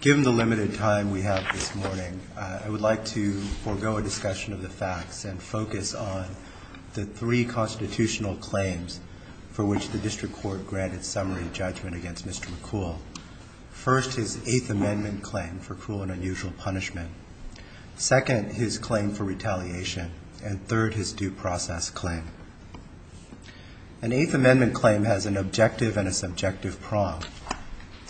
Given the limited time we have this morning, I would like to forego a discussion of the facts and focus on the three constitutional claims for which the District Court granted summary judgment against Mr. McCool. First, his Eighth Amendment claim for cruel and unusual punishment. Second, his claim for retaliation. And third, his due process claim. An Eighth Amendment claim has an objective and a subjective prong.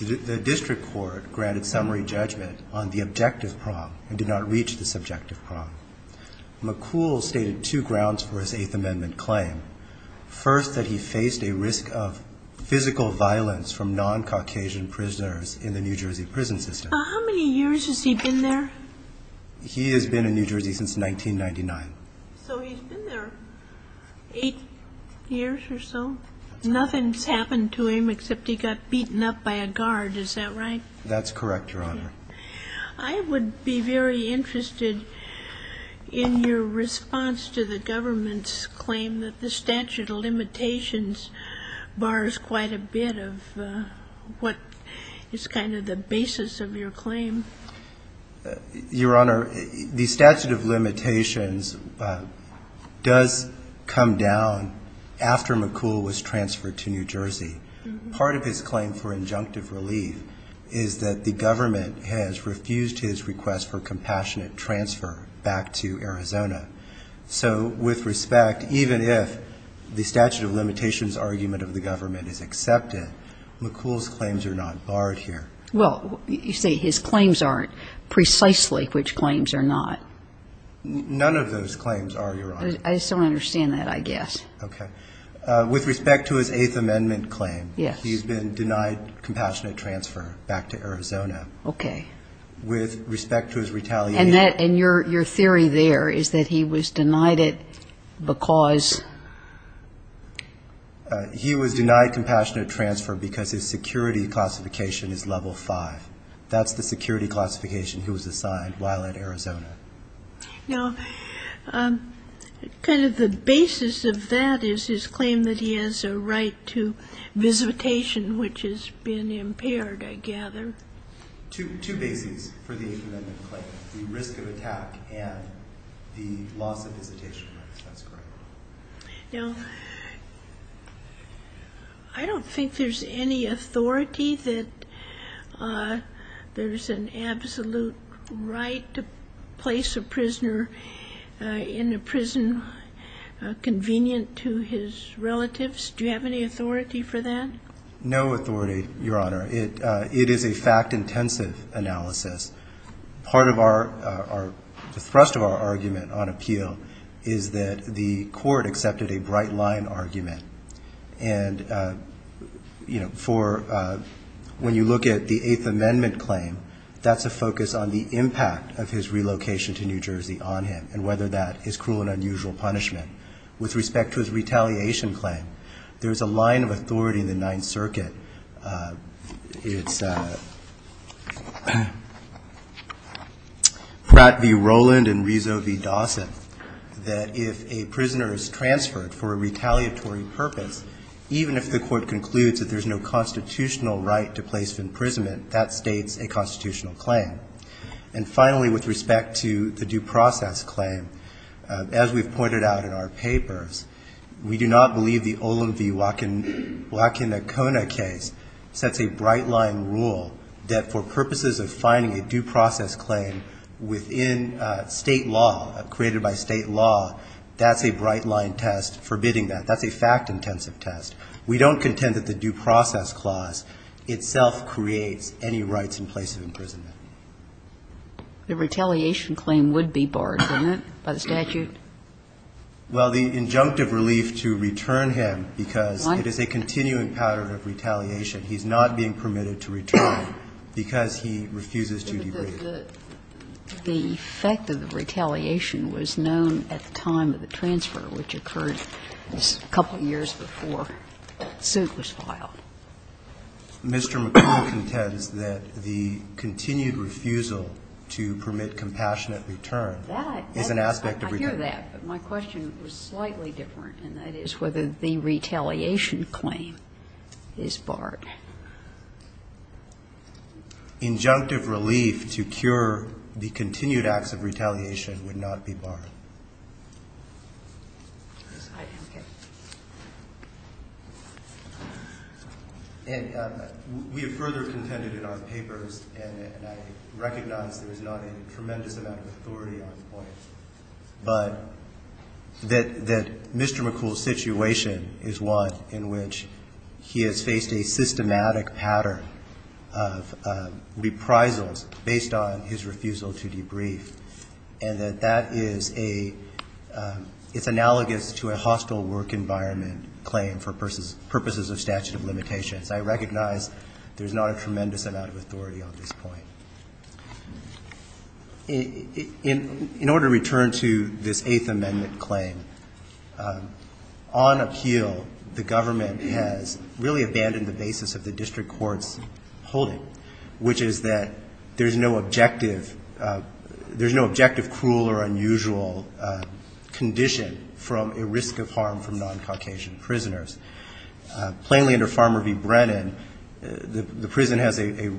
The District Court granted summary judgment on the objective prong and did not reach the subjective prong. McCool stated two grounds for his Eighth Amendment claim. First, that he faced a risk of physical violence from non-Caucasian prisoners in the New Jersey prison system. How many years has he been there? He has been in New Jersey since 1999. So he's been there eight years or so? Nothing's happened to him except he got beaten up by a guard, is that right? That's correct, Your Honor. I would be very interested in your response to the government's claim that the statute of limitations is a bit of what is kind of the basis of your claim. Your Honor, the statute of limitations does come down after McCool was transferred to New Jersey. Part of his claim for injunctive relief is that the government has refused his request for compassionate transfer back to Arizona. So with respect, even if the statute of limitations argument of the government is accepted, McCool's claims are not barred here. Well, you say his claims aren't precisely which claims are not. None of those claims are, Your Honor. I just don't understand that, I guess. Okay. With respect to his Eighth Amendment claim, he's been denied compassionate transfer back to Arizona. Okay. With respect to his retaliation. And your theory there is that he was denied it because? He was denied compassionate transfer because his security classification is level 5. That's the security classification he was assigned while at Arizona. Now, kind of the basis of that is his claim that he has a right to visitation, which has been impaired, I gather. Two bases for the Eighth Amendment claim. The risk of attack and the loss of visitation. That's correct. Now, I don't think there's any authority that there's an absolute right to place a prisoner in a prison convenient to his relatives. Do you have any authority for that? No authority, Your Honor. It is a fact-intensive analysis. Part of our, the thrust of our argument on appeal is that the court accepted a bright line argument. And, you know, for when you look at the Eighth Amendment claim, that's a focus on the impact of his relocation to New Jersey on him and whether that is cruel and unusual punishment. With respect to his retaliation claim, there's a line of authority in the Ninth Circuit. It's Pratt v. Rowland and Rizzo v. Dawson, that if a prisoner is transferred for a retaliatory purpose, even if the court concludes that there's no constitutional right to place of imprisonment, that states a constitutional claim. And finally, with respect to the due process claim, as we've pointed out in our papers, we do not believe the Olin v. Wackenacona case sets a bright line rule that for purposes of finding a due process claim within state law, created by state law, that's a bright line test forbidding that. That's a fact-intensive test. We don't contend that the due process clause itself creates any rights in place of imprisonment. The retaliation claim would be barred, wouldn't it, by the statute? Well, the injunctive relief to return him because it is a continuing pattern of retaliation. He's not being permitted to return because he refuses to debride. The fact of the retaliation was known at the time of the transfer, which occurred just a couple of years before the suit was filed. Mr. McCrory contends that the continued refusal to permit compassionate return is an aspect of retaliation. I hear that, but my question was slightly different, and that is whether the retaliation claim is barred. Injunctive relief to cure the continued acts of retaliation would not be barred. And we have further contended in our papers, and I recognize there is not a tremendous amount of authority on the point, but that Mr. McCool's situation is one in which he has faced a systematic pattern of reprisals based on his refusal to debrief, and that that is a, it's analogous to a hostile work environment claim for purposes of statute of limitations. I recognize there's not a tremendous amount of authority on this point. In order to return to this Eighth Amendment claim, on appeal, the government has really abandoned the basis of the district court's holding, which is that there's no objective, there's no objective cruel or unusual condition from a risk of harm from non-Caucasian prisoners. Plainly under Farmer v. Brennan, the prison has a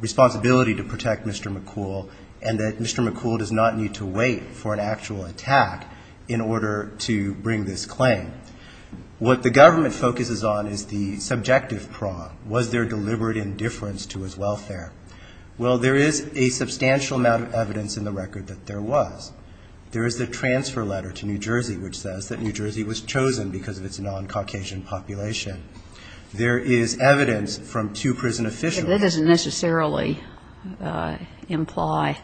responsibility to protect Mr. McCool, and that Mr. McCool does not need to wait for an actual attack in order to bring this claim. What the government focuses on is the subjective prong. Was there deliberate indifference to his welfare? Well, there is a substantial amount of evidence in the record that there was. There is the transfer letter to New Jersey which says that New Jersey was chosen because of its non-Caucasian population. There is evidence from two prison officials. But that doesn't necessarily imply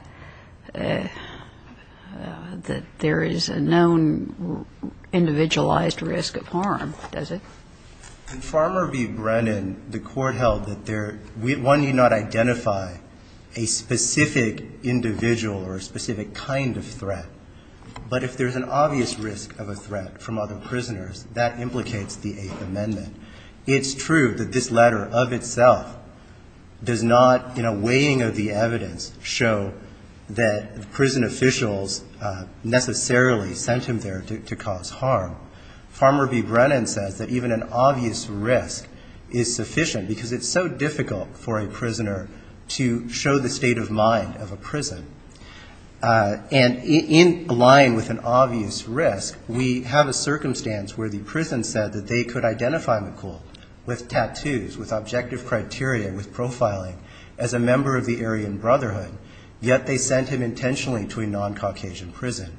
that there is a known individualized risk of harm, does it? In Farmer v. Brennan, the court held that one need not identify a specific individual or a specific kind of threat. But if there's an obvious risk of a threat from other prisoners, that implicates the Eighth Amendment. It's true that this letter of itself does not, in a weighing of the evidence, show that the prison officials necessarily sent him there to cause harm. Farmer v. Brennan says that even an obvious risk is sufficient because it's so difficult for a prisoner to show the state of mind of a prison. And in lying with an obvious risk, we have a circumstance where the prison said that they could identify McCool with tattoos, with objective criteria, with profiling as a member of the Aryan Brotherhood, yet they sent him intentionally to a non-Caucasian prison.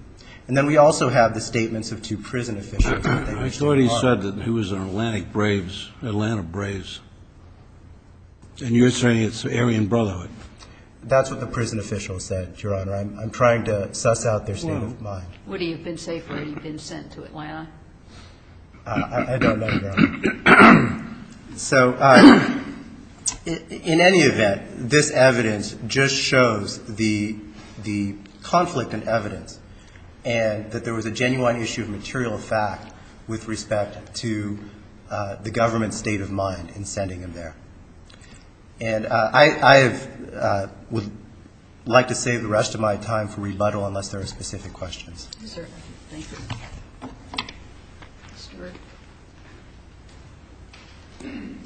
And then we also have the statements of two prison officials. I thought he said that he was an Atlantic Braves, Atlanta Braves. And you're saying it's the Aryan Brotherhood. That's what the prison official said, Your Honor. I'm trying to suss out their state of mind. What do you have been safe where you've been sent to, Atlanta? I don't know, Your Honor. So in any event, this evidence just shows the conflict in evidence and that there was a genuine issue of material fact with respect to the government's state of mind in sending him there. And I would like to save the rest of my time for rebuttal unless there are specific questions. Yes, sir. Thank you.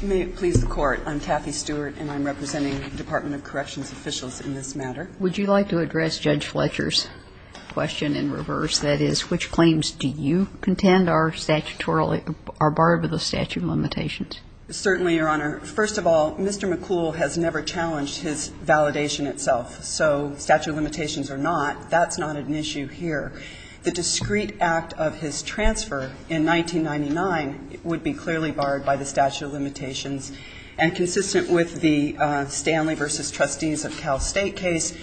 May it please the Court. I'm Kathy Stewart, and I'm representing the Department of Corrections officials in this matter. Would you like to address Judge Fletcher's question in reverse, that is, which claims do you contend are statutory, are part of the statute of limitations? Certainly, Your Honor. First of all, Mr. McCool has never challenged his validation itself. So statute of limitations or not, that's not an issue here. The discrete act of his transfer in 1999 would be clearly barred by the statute of limitations. And consistent with the Stanley v. Trustees of Cal State case,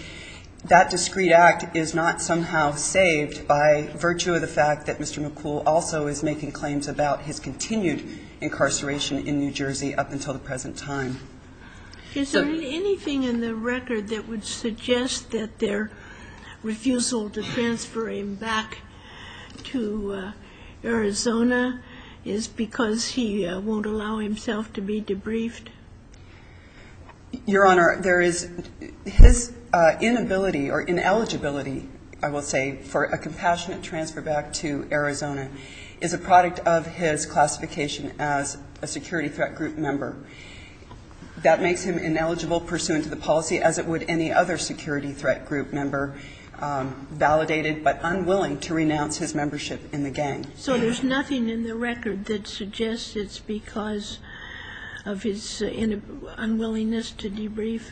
that discrete act is not somehow saved by virtue of the fact that Mr. McCool also is making claims about his continued incarceration in New Jersey up until the present time. Is there anything in the record that would suggest that their refusal to transfer him back to Arizona is because he won't allow himself to be debriefed? Your Honor, there is his inability or ineligibility, I will say, for a compassionate transfer back to Arizona, is a product of his classification as a security threat group member. That makes him ineligible pursuant to the policy, as it would any other security threat group member validated but unwilling to renounce his membership in the gang. So there's nothing in the record that suggests it's because of his unwillingness to debrief?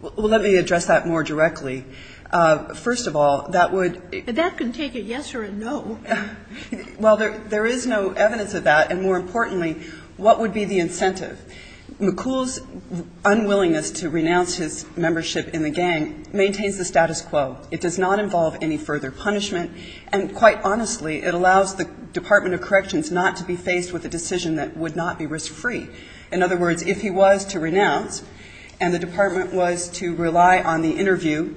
Well, let me address that more directly. First of all, that would... That can take a yes or a no. Well, there is no evidence of that. And more importantly, what would be the incentive? McCool's unwillingness to renounce his membership in the gang maintains the status quo. It does not involve any further punishment. And quite honestly, it allows the Department of Corrections not to be faced with a decision that would not be risk-free. In other words, if he was to renounce and the department was to rely on the interview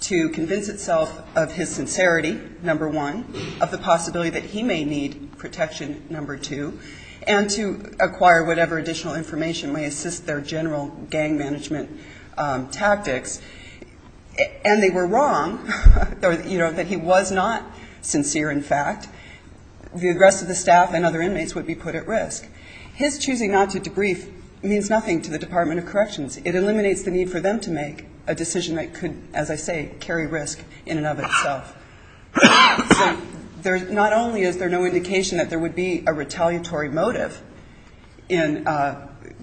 to convince itself of his sincerity, number one, of the possibility that he may need protection, number two, and to acquire whatever additional information may assist their general gang management tactics, and they were wrong, you know, that he was not sincere in fact, the rest of the staff and other inmates would be put at risk. His choosing not to debrief means nothing to the Department of Corrections. It eliminates the need for them to make a decision that could, as I say, carry risk in and of itself. So not only is there no indication that there would be a retaliatory motive in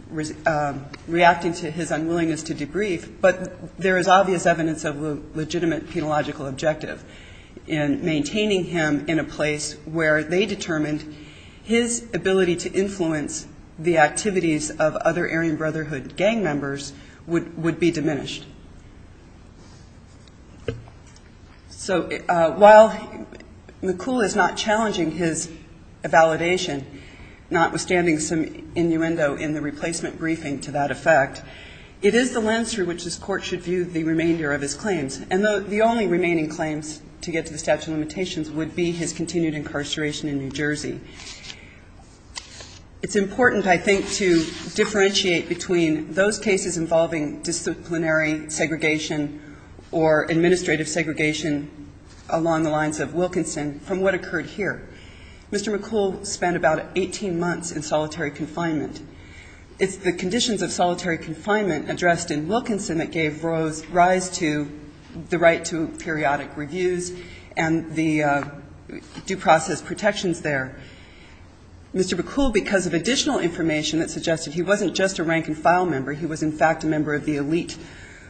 reacting to his unwillingness to debrief, but there is obvious evidence of a legitimate penological objective in maintaining him in a place where they determined his ability to influence the activities of other Aryan Brotherhood gang members would be diminished. So while McCool is not challenging his validation, notwithstanding some innuendo in the replacement briefing to that effect, it is the lens through which this court should view the remainder of his claims, and the only remaining claims to get to the statute of limitations would be his continued incarceration in New Jersey. It's important, I think, to differentiate between those cases involving disciplinary, segregation, or administrative segregation along the lines of Wilkinson from what occurred here. Mr. McCool spent about 18 months in solitary confinement. It's the conditions of solitary confinement addressed in Wilkinson that gave rise to the right to periodic reviews and the due process protections there. Mr. McCool, because of additional information that suggested he wasn't just a rank-and-file member, he was in fact a member of the elite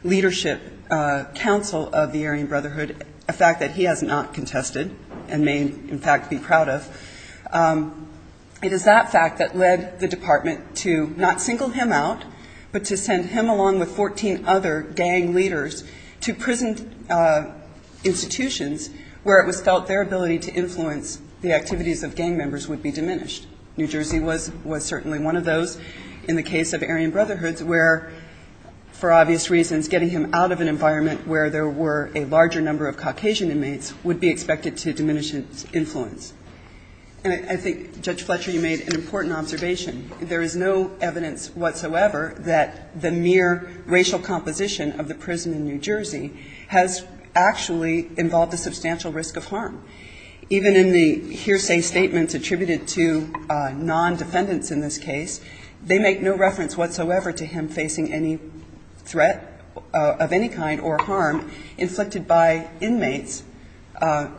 leadership council of the Aryan Brotherhood, a fact that he has not contested and may in fact be proud of, it is that fact that led the department to not single him out, but to send him along with 14 other gang leaders to prison institutions where it was felt their ability to influence the activities of gang members would be diminished. New Jersey was certainly one of those in the case of Aryan Brotherhoods where, for obvious reasons, getting him out of an environment where there were a larger number of Caucasian inmates would be expected to diminish his influence. And I think, Judge Fletcher, you made an important observation. There is no evidence whatsoever that the mere racial composition of the prison in New Jersey has actually involved a substantial risk of harm. Even in the hearsay statements attributed to non-defendants in this case, they make no reference whatsoever to him facing any threat of any kind or harm inflicted by inmates,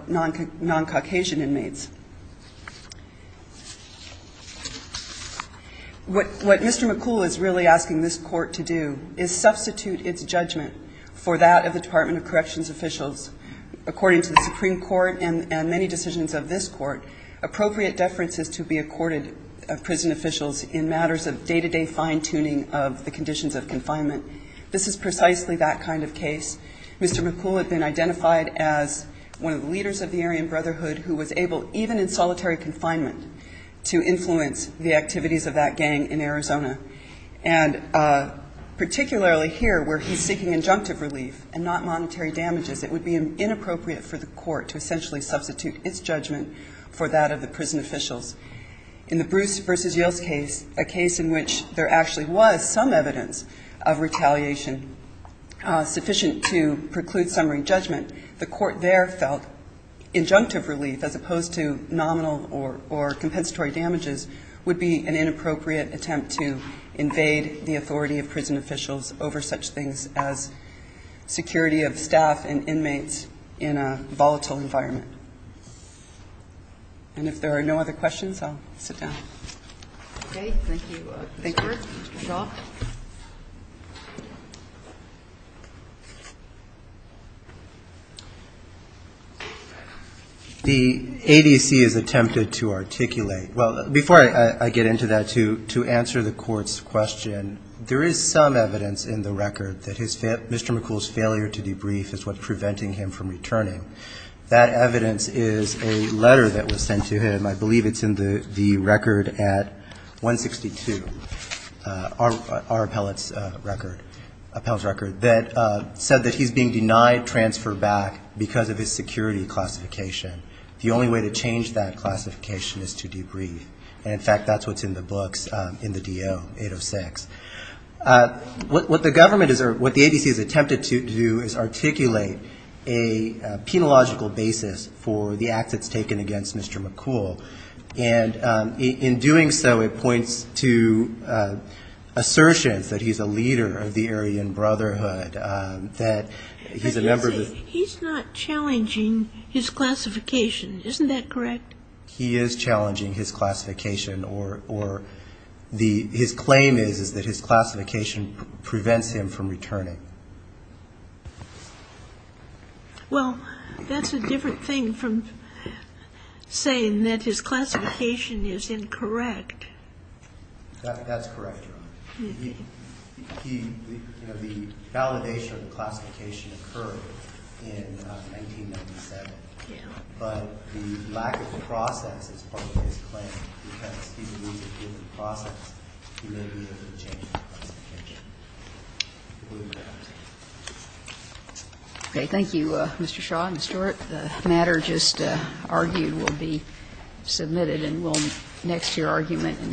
non-Caucasian inmates. What Mr. McCool is really asking this court to do is substitute its judgment for that of the Department of Corrections officials. According to the Supreme Court and many decisions of this court, appropriate deference is to be accorded of prison officials in matters of day-to-day fine-tuning of the conditions of confinement. This is precisely that kind of case. Mr. McCool had been identified as one of the leaders of the Aryan Brotherhood who was able, even in solitary confinement, to influence the activities of that gang in Arizona. And particularly here, where he's seeking injunctive relief and not monetary damages, it would be inappropriate for the court to essentially substitute its judgment for that of the prison officials. In the Bruce v. Yales case, a case in which there actually was some evidence of retaliation sufficient to preclude summary judgment, the court there felt injunctive relief, as opposed to nominal or compensatory damages, would be an inappropriate attempt to invade the authority of prison officials over such things as security of staff and inmates in a volatile environment. And if there are no other questions, I'll sit down. The ADC has attempted to articulate... Well, before I get into that, to answer the court's question, there is some evidence in the record that Mr. McCool's failure to debrief is what's preventing him from returning. That evidence is a letter that was sent to him. I believe it's in the record at 162, our appellate's record, appellate's record, that said that he's being denied transfer back because of his security classification. The only way to change that classification is to debrief. And in fact, that's what's in the books in the DO-806. What the government is... What the ADC has attempted to do is articulate a penological basis for the acts it's taken against Mr. McCool. And in doing so, it points to assertions that he's a leader of the Aryan Brotherhood, that he's a member of the... He's not challenging his classification. Isn't that correct? He is challenging his classification, or his claim is that his classification prevents him from returning. Well, that's a different thing from saying that his classification is incorrect. That's correct, Your Honor. He... You know, the validation of the classification occurred in 1997. Yeah. But the lack of the process is part of his claim. Because he's moving through the process, he may be able to change his classification. Okay, thank you, Mr. Shaw and Mr. Stewart. The matter just argued will be submitted next to your argument in Hogan.